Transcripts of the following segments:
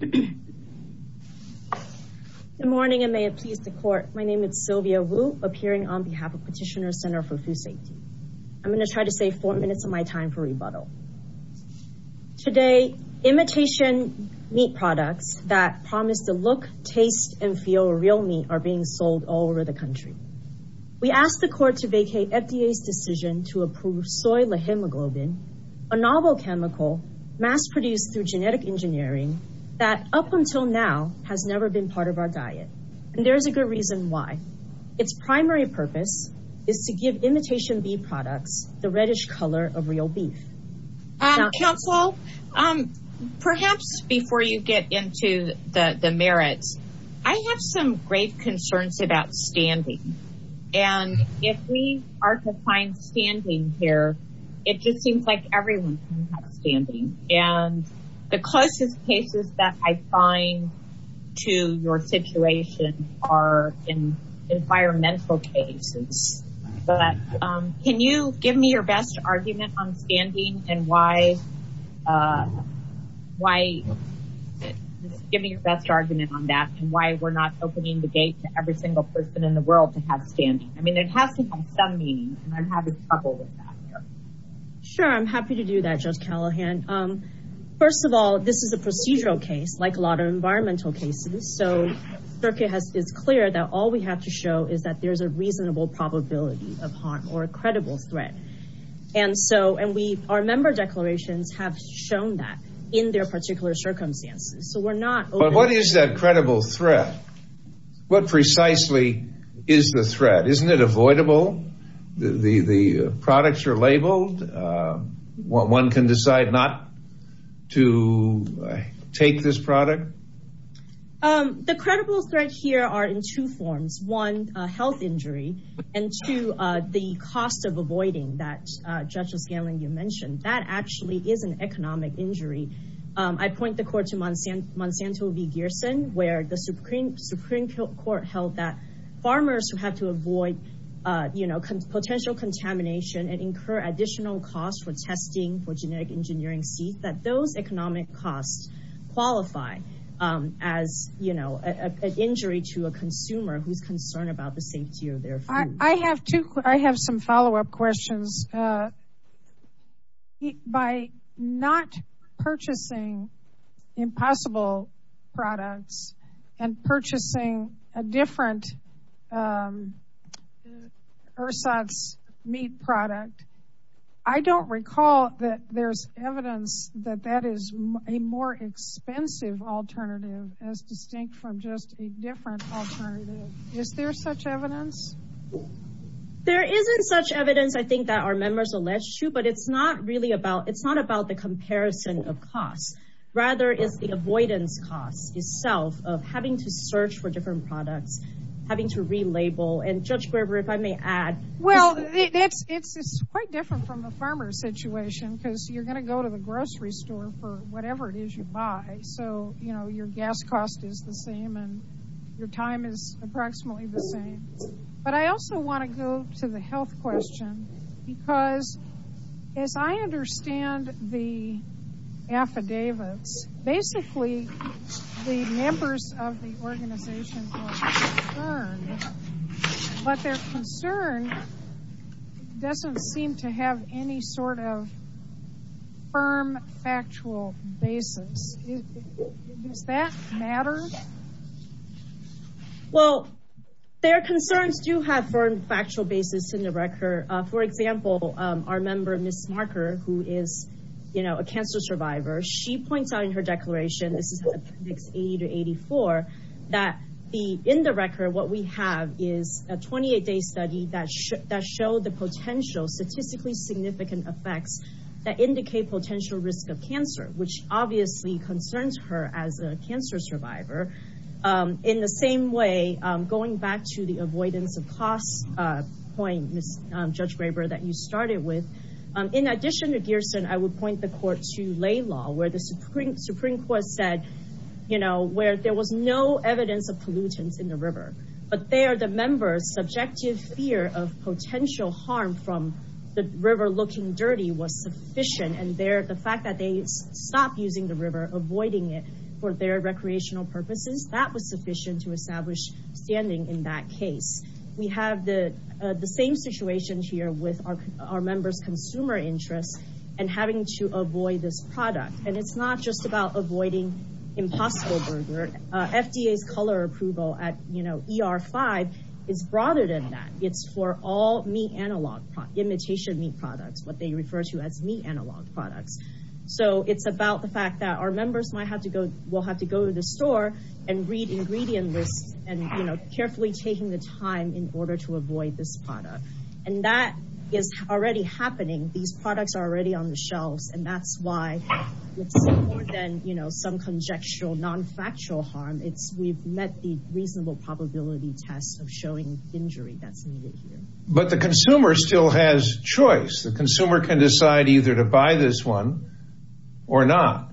Good morning and may it please the court. My name is Sylvia Wu, appearing on behalf of Petitioner Center for Food Safety. I'm going to try to save four minutes of my time for rebuttal. Today, imitation meat products that promise the look, taste, and feel real meat are being sold all over the country. We asked the court to vacate FDA's decision to approve soy lehemoglobin, a novel chemical mass-produced through genetic engineering that up until now has never been part of our diet. And there is a good reason why. Its primary purpose is to give imitation beef products the reddish color of real beef. Counsel, perhaps before you get into the merits, I have some grave concerns about standing. And if we are to find standing here, it just seems like everyone can have standing. And the closest cases that I find to your situation are in environmental cases. But can you give me your best argument on standing and why, give me your best argument on that and why we're not opening the gate to every single person in the world to have standing. I mean, it has to have some meaning, and I'm having trouble with that here. Sure, I'm happy to do that, Judge Callahan. First of all, this is a procedural case, like a lot of environmental cases. So, it's clear that all we have to show is that there's a reasonable probability of harm or a credible threat. And so, our member declarations have shown that in their particular circumstances. So, we're not opening... But what is that credible threat? What precisely is the threat? Isn't it avoidable? The products are labeled. One can decide not to take this product? The credible threat here are in two forms. One, a health injury. And two, the cost of avoiding that, Judge O'Scanlan, you mentioned. That actually is an economic injury. I point the court to Monsanto v. Gearson, where the Supreme Court held that farmers who have to avoid potential contamination and incur additional costs for testing for genetic engineering seeds, that those economic costs qualify as an injury to a consumer who's concerned about the safety of their food. I have some follow-up questions. By not purchasing impossible products and purchasing a different ersatz meat product, I don't recall that there's evidence that that is a more expensive alternative as distinct from just a different alternative. Is there such evidence? There isn't such evidence, I think, that our members allege to, but it's not really about... It's not about the comparison of costs. Rather, it's the avoidance costs itself of having to search for different products, having to relabel. And Judge Graber, if I may add... Well, it's quite different from a farmer's situation, because you're going to go to the health question, because as I understand the affidavits, basically, the members of the organizations are concerned, but their concern doesn't seem to have any sort of firm, factual basis. Does that matter? Well, their concerns do have a firm, factual basis in the record. For example, our member, Ms. Marker, who is a cancer survivor, she points out in her declaration, this is appendix 80 to 84, that in the record, what we have is a 28-day study that showed the potential statistically significant effects that indicate potential risk of cancer, which obviously concerns her as a cancer survivor. In the same way, going back to the avoidance of costs point, Ms. Judge Graber, that you started with, in addition to Gearson, I would point the court to lay law, where the Supreme Court said, where there was no evidence of pollutants in the river, but there the members' subjective fear of potential harm from the river looking dirty was sufficient, and the fact that they stopped using the river, avoiding it for their recreational purposes, that was sufficient to establish standing in that case. We have the same situation here with our members' consumer interests and having to avoid this product, and it's not just about avoiding impossible burger. FDA's color approval at ER5 is broader than that. It's for all meat analog, imitation meat products, what they refer to as meat analog products. It's about the fact that our members will have to go to the store and read ingredient lists and carefully taking the time in order to avoid this product, and that is already happening. These some conjectural, non-factual harm, we've met the reasonable probability test of showing injury that's needed here. But the consumer still has choice. The consumer can decide either to buy this one or not.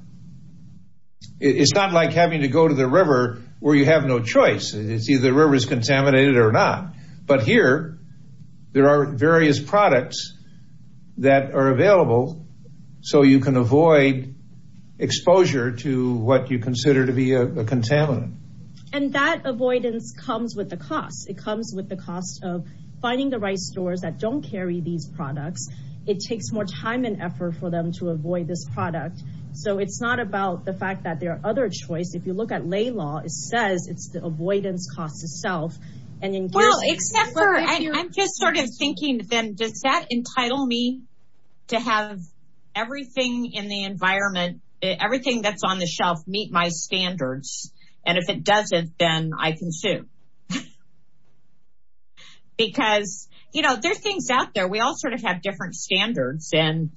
It's not like having to go to the river where you have no choice. It's either the river is contaminated or not, but here there are various products that are available, so you can exposure to what you consider to be a contaminant. And that avoidance comes with the cost. It comes with the cost of finding the right stores that don't carry these products. It takes more time and effort for them to avoid this product. So it's not about the fact that there are other choices. If you look at lay law, it says it's the avoidance cost itself. Well, I'm just sort of everything that's on the shelf meet my standards, and if it doesn't, then I can sue. Because, you know, there's things out there. We all sort of have different standards and,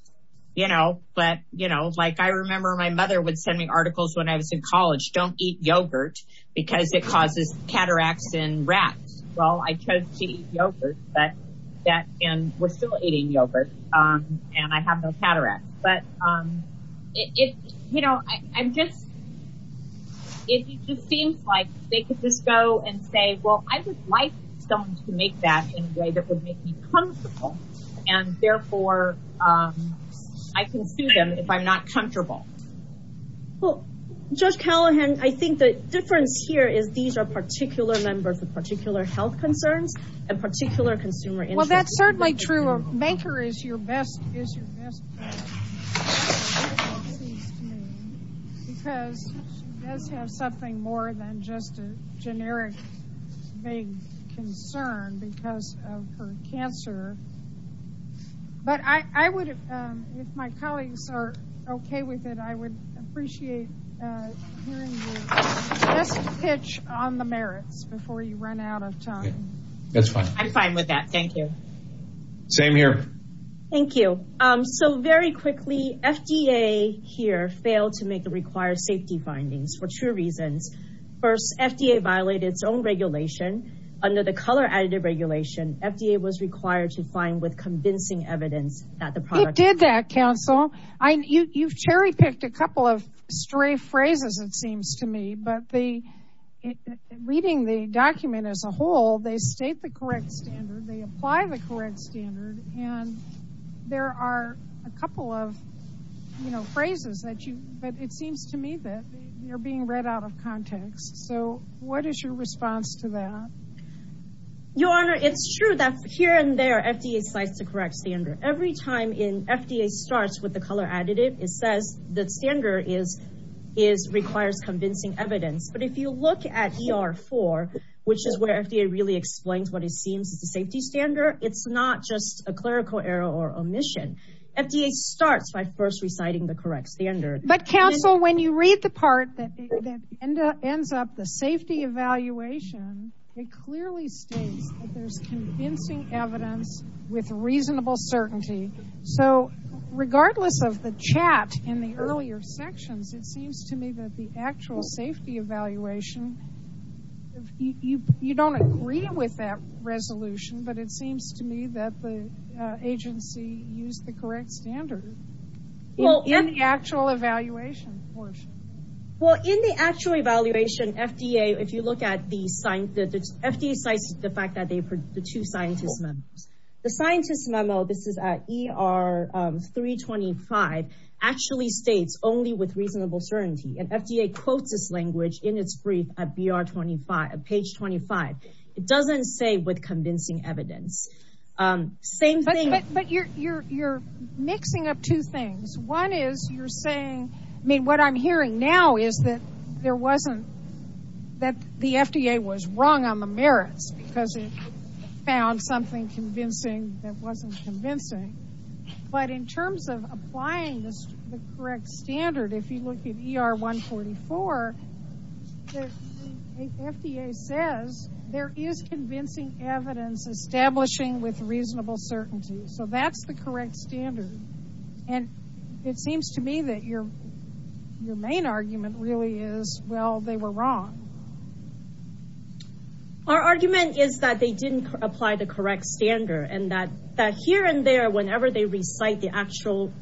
you know, but, you know, like I remember my mother would send me articles when I was in college, don't eat yogurt because it causes cataracts in rats. Well, I chose to eat yogurt, and we're still eating yogurt, and I have no cataracts. But, you know, I'm just, it just seems like they could just go and say, well, I would like someone to make that in a way that would make me comfortable, and therefore I can sue them if I'm not comfortable. Well, Judge Callahan, I think the difference here is these are particular members of particular health concerns, and particular consumer interest. Well, that's certainly true. A banker is your best friend, because she does have something more than just a generic vague concern because of her cancer, but I would, if my colleagues are okay with it, I would appreciate hearing your best pitch on the merits before you run out of time. That's fine. I'm fine with that. Thank you. Same here. Thank you. So, very quickly, FDA here failed to make the required safety findings for two reasons. First, FDA violated its own regulation. Under the color additive regulation, FDA was required to find with convincing evidence that the product... You've cherry picked a couple of stray phrases, it seems to me, but reading the document as a whole, they state the correct standard, they apply the correct standard, and there are a couple of, you know, phrases that you, but it seems to me that they're being read out of context. So, what is your response to that? Your Honor, it's true that here and there FDA cites the correct standard. Every time FDA starts with the color additive, it says the standard requires convincing evidence, but if you look at ER4, which is where FDA really explains what it seems is a safety standard, it's not just a clerical error or omission. FDA starts by first reciting the correct standard. But, counsel, when you read the part that ends up with the safety evaluation, it clearly states that there's convincing evidence with reasonable certainty. So, regardless of the chat in the earlier sections, it seems to me that the actual safety evaluation, you don't agree with that resolution, but it seems to me that the agency used the correct standard in the actual evaluation portion. Well, in the actual evaluation, if you look at the, FDA cites the fact that they, the two scientist memos. The scientist memo, this is at ER325, actually states only with reasonable certainty, and FDA quotes this language in its brief at BR25, at page 25. It doesn't say with convincing evidence. Same thing. But you're mixing up two things. One is you're saying, I mean, what I'm hearing now is that there wasn't, that the FDA was wrong on the merits because it found something convincing that wasn't convincing. But in terms of applying this, the correct standard, if you look at ER144, FDA says there is convincing evidence establishing with reasonable certainty. So, that's the correct standard. And it seems to me that your main argument really is, well, they were wrong. Our argument is that they didn't apply the correct standard, and that here and there, whenever they recite the actual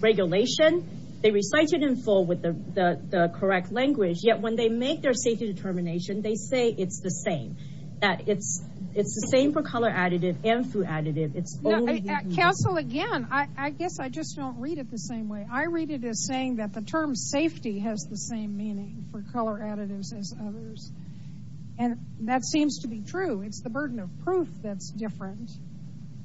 regulation, they recite it in full with the correct language, yet when they make their safety determination, they say it's the same. That it's the same for again, I guess I just don't read it the same way. I read it as saying that the term safety has the same meaning for color additives as others. And that seems to be true. It's the burden of proof that's different.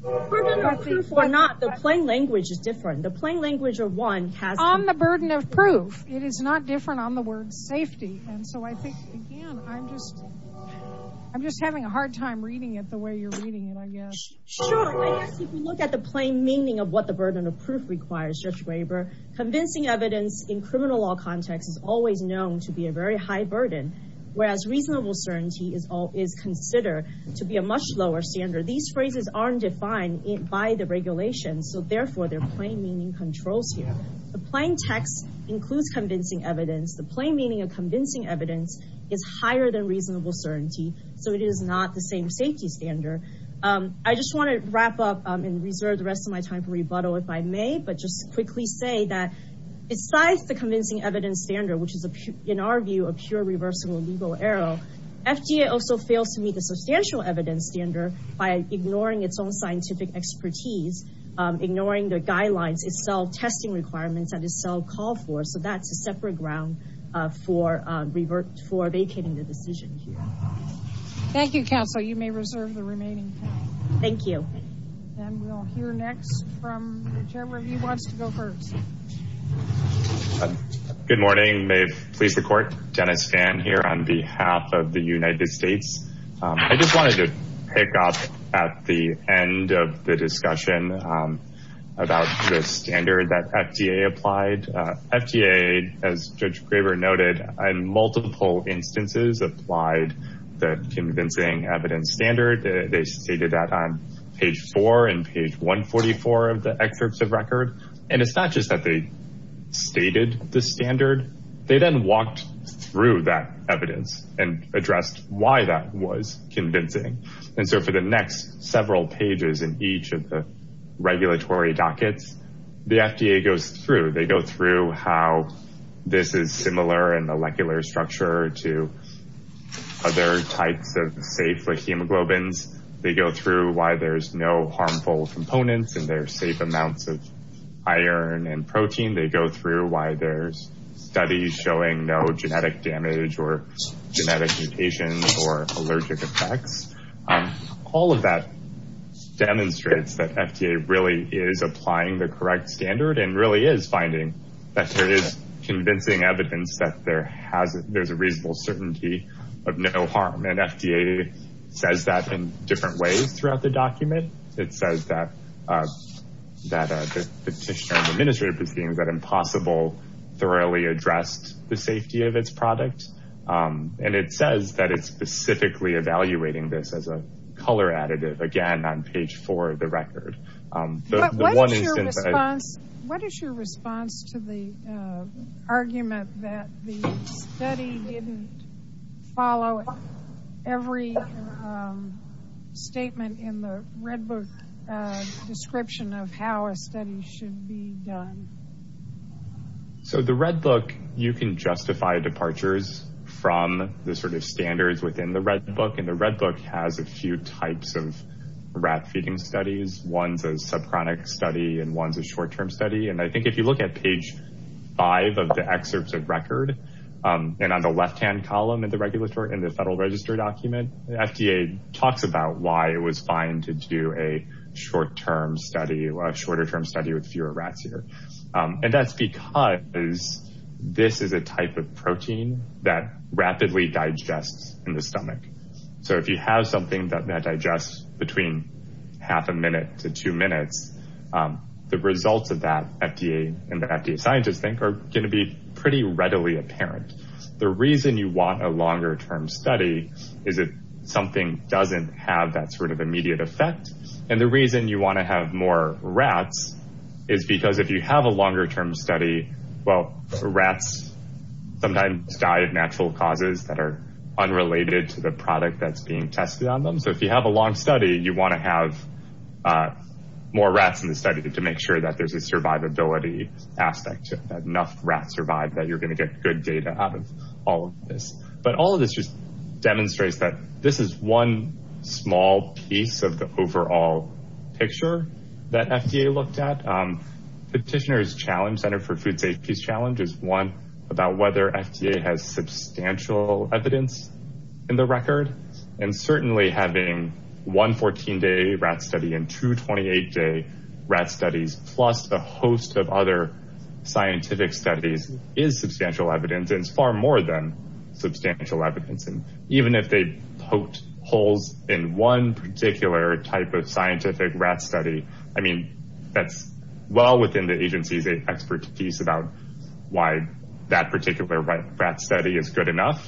The plain language is different. The plain language of one has the burden of proof. It is not different on the word safety. And so, I think, again, I'm just having a hard time reading it the way you're reading it, I guess. Sure. I guess if you look at the plain meaning of what the burden of proof requires, Judge Weber, convincing evidence in criminal law context is always known to be a very high burden, whereas reasonable certainty is considered to be a much lower standard. These phrases aren't defined by the regulations. So, therefore, their plain meaning controls here. The plain text includes convincing evidence. The plain meaning of convincing evidence is higher than reasonable certainty. So, it is not the same standard. I just want to wrap up and reserve the rest of my time for rebuttal if I may, but just quickly say that besides the convincing evidence standard, which is, in our view, a pure reversal of legal error, FDA also fails to meet the substantial evidence standard by ignoring its own scientific expertise, ignoring the guidelines, its self-testing requirements, and its self-call for. So, that's a separate ground for vacating the decision here. Thank you, counsel. You may reserve the remaining time. Thank you. And we'll hear next from the chairman who wants to go first. Good morning. Maeve, police and court. Dennis Fan here on behalf of the United States. I just wanted to pick up at the end of the discussion about the standard that FDA applied. FDA, as Judge Graber noted, in multiple instances applied the convincing evidence standard. They stated that on page 4 and page 144 of the excerpts of record. And it's not just that they stated the standard. They then walked through that evidence and addressed why that was convincing. And so, for the next several pages in each of the regulatory dockets, the FDA goes through, they go through how this is similar in molecular structure to other types of safe hemoglobins. They go through why there's no harmful components in their safe amounts of iron and protein. They go through why there's studies showing no genetic damage or genetic mutations or allergic effects. All of that demonstrates that FDA really is applying the correct standard and really is finding that there is convincing evidence that there's a reasonable certainty of no harm. And FDA says that in different ways throughout the document. It says that the petitioner, the administrative proceedings, that Impossible thoroughly addressed the safety of its product. And it says that it's specifically evaluating this as a color additive again on page 4 of the record. What is your response to the argument that the study didn't follow every statement in the Redbook description of how a study should be done? So, the Redbook, you can justify departures from the sort of standards within the Redbook. And the Redbook has a few types of rat feeding studies. One's a subchronic study and one's a short-term study. And I think if you look at page 5 of the excerpts of record, and on the left-hand column in the Federal Register document, the FDA talks about why it was fine to do a shorter-term study with fewer rats here. And that's because this is a type of protein that rapidly digests in the stomach. So, if you have something that digests between half a minute to two minutes, the results of that, FDA and the FDA scientists think, are going to be pretty readily apparent. The reason you want a longer-term study is if something doesn't have that sort of immediate effect. And the reason you want to have more rats is because if you have a longer-term study, well, rats sometimes die of natural causes that are unrelated to the product that's being tested on them. So, if you have a long study, you want to have more rats in the study to make sure that there's a survivability aspect, that enough rats survive, that you're going to get good data out of all of this. But all of this just demonstrates that this is one small piece of the overall picture that FDA looked at. Petitioner's challenge, Center for Food Safety's challenge, is one, about whether FDA has substantial evidence in the record. And certainly having one 14-day rat study and two 28-day rat studies, plus a host of other scientific studies, is substantial evidence. It's more than substantial evidence. And even if they poked holes in one particular type of scientific rat study, I mean, that's well within the agency's expertise about why that particular rat study is good enough.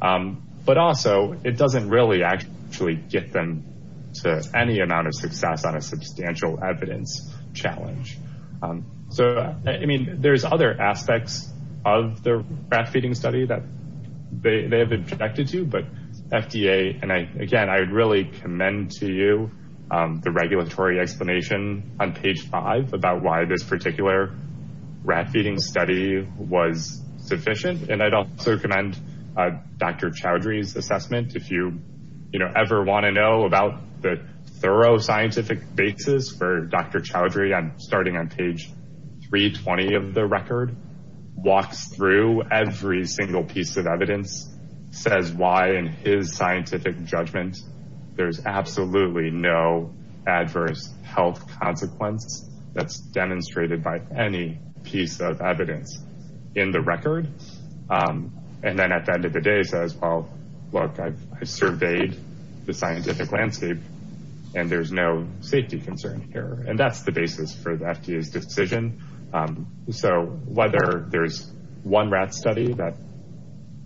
But also, it doesn't really actually get them to any amount of success on a substantial evidence challenge. So, I mean, there's other aspects of the rat feeding study that they have objected to. But FDA, and again, I would really commend to you the regulatory explanation on page five about why this particular rat feeding study was sufficient. And I'd also commend Dr. Chowdhury's assessment. If you ever want to know about the thorough scientific basis for Dr. Chowdhury, starting on page 320 of the record, walks through every single piece of evidence, says why in his scientific judgment there's absolutely no adverse health consequence that's demonstrated by any piece of evidence in the record, and then at the end of the day says, look, I've surveyed the scientific landscape and there's no safety concern here. And that's the basis for the FDA's decision. So whether there's one rat study that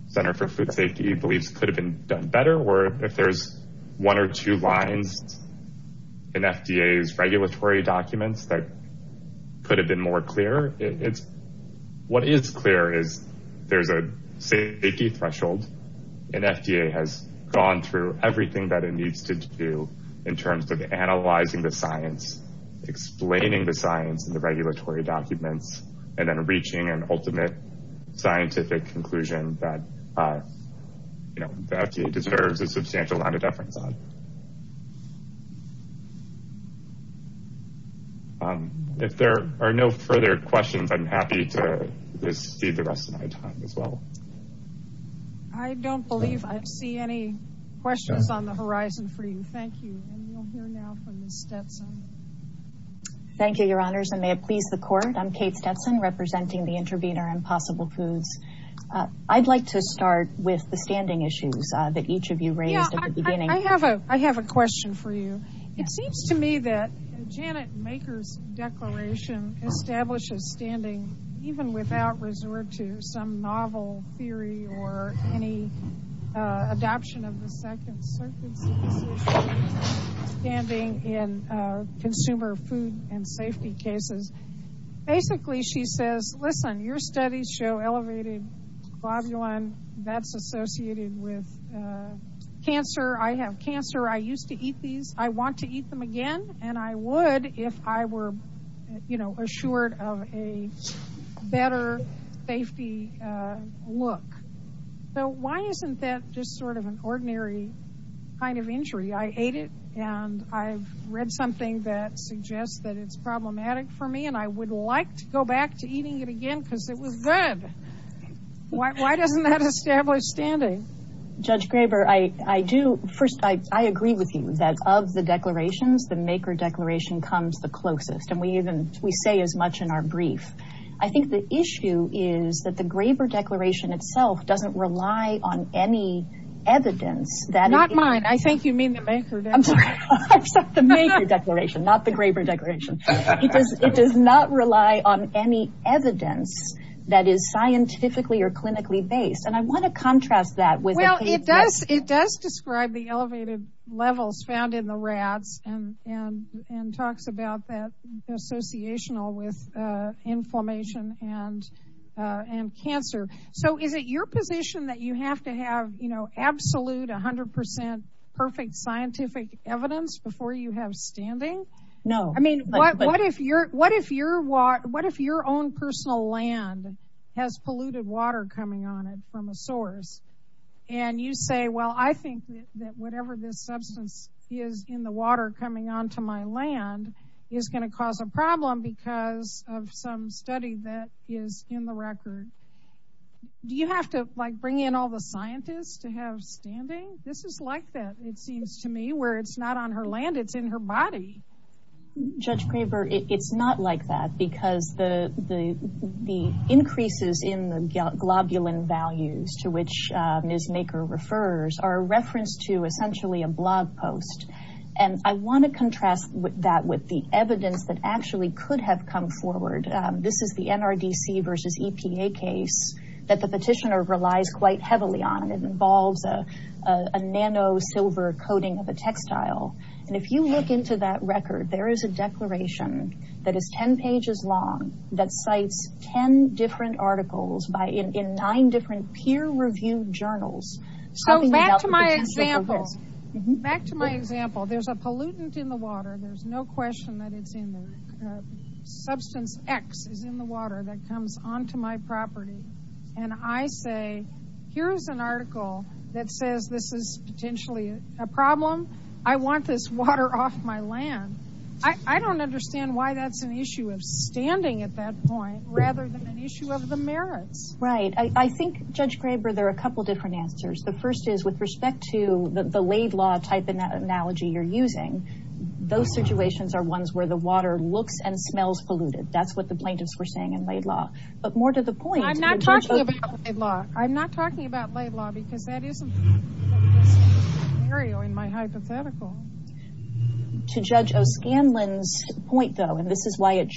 Center for Food Safety believes could have been done better, or if there's one or two lines in FDA's regulatory documents that could have been more clear, what is clear is there's a safety threshold and FDA has gone through everything that it needs to do in terms of analyzing the science, explaining the science in the regulatory documents, and then reaching an ultimate scientific conclusion that the FDA deserves a substantial amount of deference on. If there are no further questions, I'm happy to just speed the rest of my time as well. I don't believe I see any questions on the horizon for you. Thank you. Thank you, your honors, and may it please the court. I'm Kate Stetson representing the intervener Impossible Foods. I'd like to start with the standing issues that each of establishes standing, even without resort to some novel theory or any adoption of the second standing in consumer food and safety cases. Basically, she says, listen, your studies show elevated globulin that's associated with cancer. I have cancer. I used to eat these. I want to be assured of a better safety look. Why isn't that just sort of an ordinary kind of injury? I ate it and I've read something that suggests that it's problematic for me and I would like to go back to eating it again because it was good. Why doesn't that establish standing? Judge Graber, first, I agree with you that of the declarations, the maker declaration comes the closest. We say as much in our brief. I think the issue is that the Graber declaration itself doesn't rely on any evidence. Not mine. I think you mean the maker declaration. The maker declaration, not the Graber declaration. It does not rely on any evidence that is scientifically or clinically based. I want to contrast that. It does describe the elevated levels found in the rats and talks about that associational with inflammation and cancer. Is it your position that you have to have absolute 100% perfect scientific evidence before you have standing? No. What if your own personal land has polluted water coming on it from a source? You say, well, I think that whatever this substance is in the water coming onto my land is going to cause a problem because of some study that is in the record. Do you have to bring in all the scientists to have standing? This is like that, it seems to me, where it's not on her land, it's in her body. Judge Graber, it's not like that because the increases in the globulin values to Ms. Maker refers are a reference to essentially a blog post. I want to contrast that with the evidence that actually could have come forward. This is the NRDC versus EPA case that the petitioner relies quite heavily on. It involves a nano silver coating of a textile. If you look into that record, there is a declaration that is 10 pages long that cites 10 different articles in nine different peer-reviewed journals. Back to my example, there's a pollutant in the water, there's no question that it's in there. Substance X is in the water that comes onto my property. I say, here's an article that says this is potentially a problem. I want this water off my land. I don't understand why that's an issue of standing at that point rather than an issue of the merits. Right. I think, Judge Graber, there are a couple different answers. The first is with respect to the laid law type analogy you're using, those situations are ones where the water looks and smells polluted. That's what the plaintiffs were saying in laid law. But more to the point- I'm not talking about laid law. I'm not talking about laid law because that isn't a scenario in my hypothetical. To Judge O'Scanlan's point though, and this is why it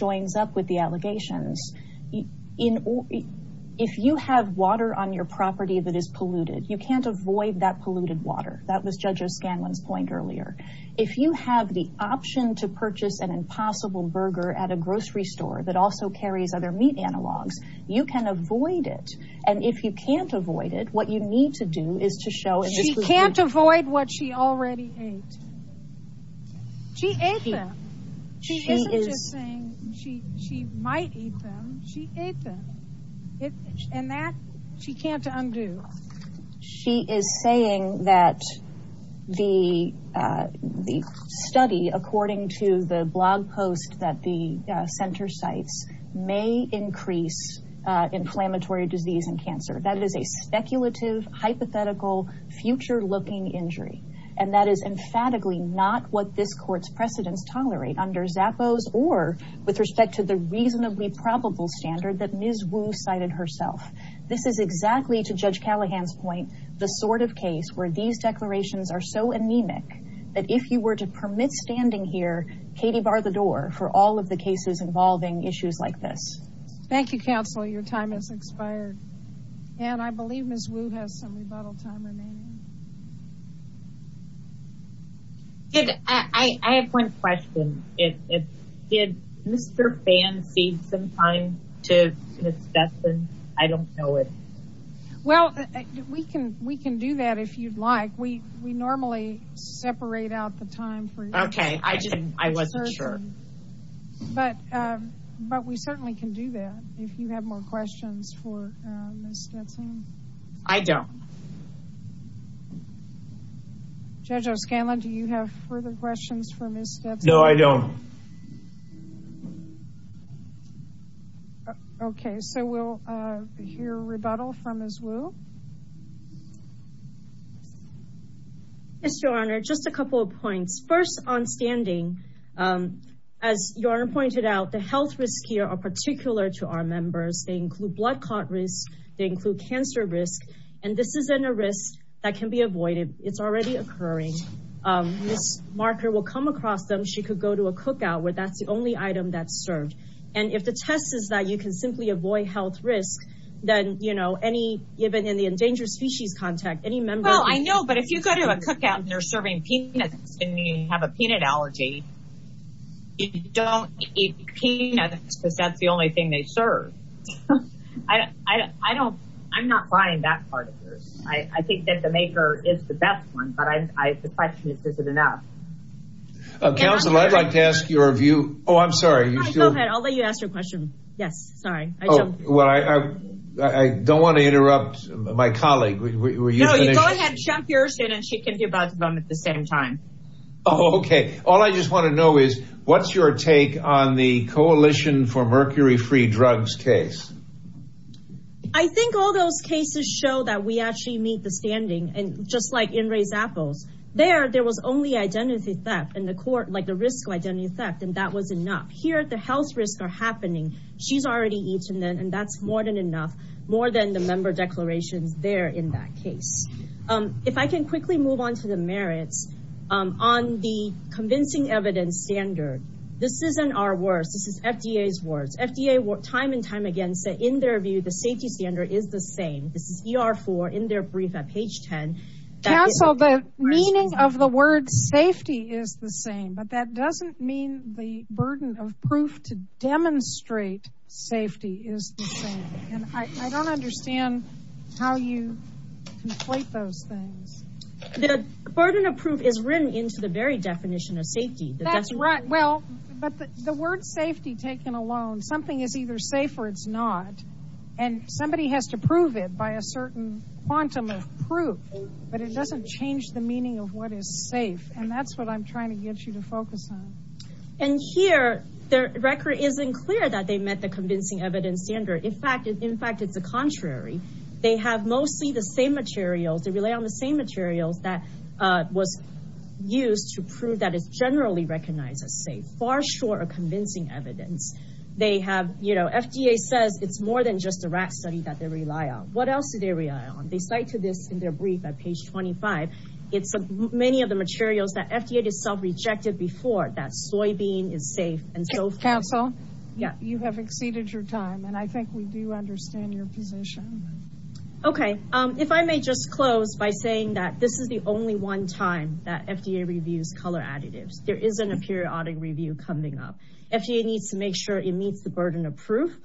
if you have water on your property that is polluted, you can't avoid that polluted water. That was Judge O'Scanlan's point earlier. If you have the option to purchase an impossible burger at a grocery store that also carries other meat analogs, you can avoid it. And if you can't avoid it, what you need to do is to show- She can't avoid what she already ate. She ate them. She isn't just saying she might eat them. She ate them. And that she can't undo. She is saying that the study, according to the blog post that the center cites, may increase inflammatory disease and cancer. That is a speculative, hypothetical, future-looking injury. And that is emphatically not what this court's precedents tolerate under Zappos or with respect to the reasonably probable standard that Ms. Wu cited herself. This is exactly, to Judge Callahan's point, the sort of case where these declarations are so anemic that if you were to permit standing here, Katie, bar the door for all of the cases involving issues like this. Thank you, counsel. Your time has expired. And I believe Ms. Wu has some rebuttal time remaining. I have one question. Did Mr. Phan cede some time to Ms. Stetson? I don't know it. Well, we can do that if you'd like. We normally separate out the time for- Okay. I wasn't sure. But we certainly can do that if you have more questions for Ms. Stetson. I don't. Judge O'Scanlan, do you have further questions for Ms. Stetson? No, I don't. Okay. So we'll hear rebuttal from Ms. Wu. Yes, Your Honor. Just a couple of points. First, on standing, as Your Honor pointed out, the health risks here are particular to our members. They include blood clot risks. They include cancer risks. And this isn't a risk that can be avoided. It's already occurring. Ms. Marker will come across them. She could go to a cookout where that's the only item that's served. And if the test is that you can simply avoid health risk, then, you know, any, even in the endangered species contact, any member- Well, I know. But if you go to a cookout and they're serving peanuts and you have a peanut allergy, you don't eat peanuts because that's the only thing they serve. I don't, I'm not buying that part of this. I think that the maker is the best one, but I, the question is, is it enough? Counselor, I'd like to ask your view. Oh, I'm sorry. Go ahead. I'll let you ask your question. Yes. Sorry. Oh, well, I don't want to interrupt my colleague. No, you go ahead and jump yours in and she can do both of them at the same time. Oh, okay. All I just want to know is what's your take on the Coalition for Mercury-Free Drugs case? I think all those cases show that we actually meet the standing and just like in Raised Apples, there, there was only identity theft in the court, like the risk of identity theft, and that was enough. Here, the health risks are happening. She's already eaten them, and that's more than enough, more than the member declarations there in that case. If I can quickly move on to the merits on the convincing evidence standard, this isn't our words. This is FDA's words. FDA time and time again said in their view, the safety standard is the same. This is ER4 in their brief at page 10. Counsel, the meaning of the word safety is the same, but that doesn't mean the burden of proof to demonstrate safety is the same. And I don't understand how you conflate those things. The burden of proof is written into the very definition of safety. That's right. Well, but the word safety taken alone, something is either safe or it's not. And somebody has to prove it by a certain quantum of proof, but it doesn't change the meaning of what is safe. And that's what I'm trying to get you to focus on. And here, the record isn't clear that they met the convincing evidence standard. In fact, it's the contrary. They have mostly the same materials. They rely on the same materials that was used to prove that it's generally recognized as safe, far short of convincing evidence. They have, you know, FDA says it's more than just a rat study that they rely on. What else do they rely on? They cite to this in their brief at page 25. It's many of the materials that FDA itself rejected before that soybean is safe. Counsel, you have exceeded your time. And I think we do understand your position. Okay. If I may just close by saying that this is the only one time that FDA reviews color additives. There isn't a periodic review coming up. FDA needs to make sure it meets the burden of proof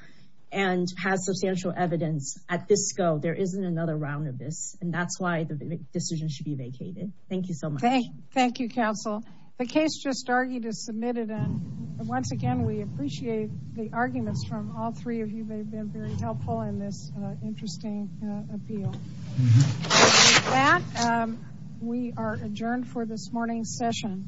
and has substantial evidence at this scope. There isn't another round of this. And that's why the decision should be vacated. Thank you so much. Thank you, counsel. The case just argued is submitted. And once again, we appreciate the arguments from all three of you. They've been very helpful in this interesting appeal. We are adjourned for this morning's session.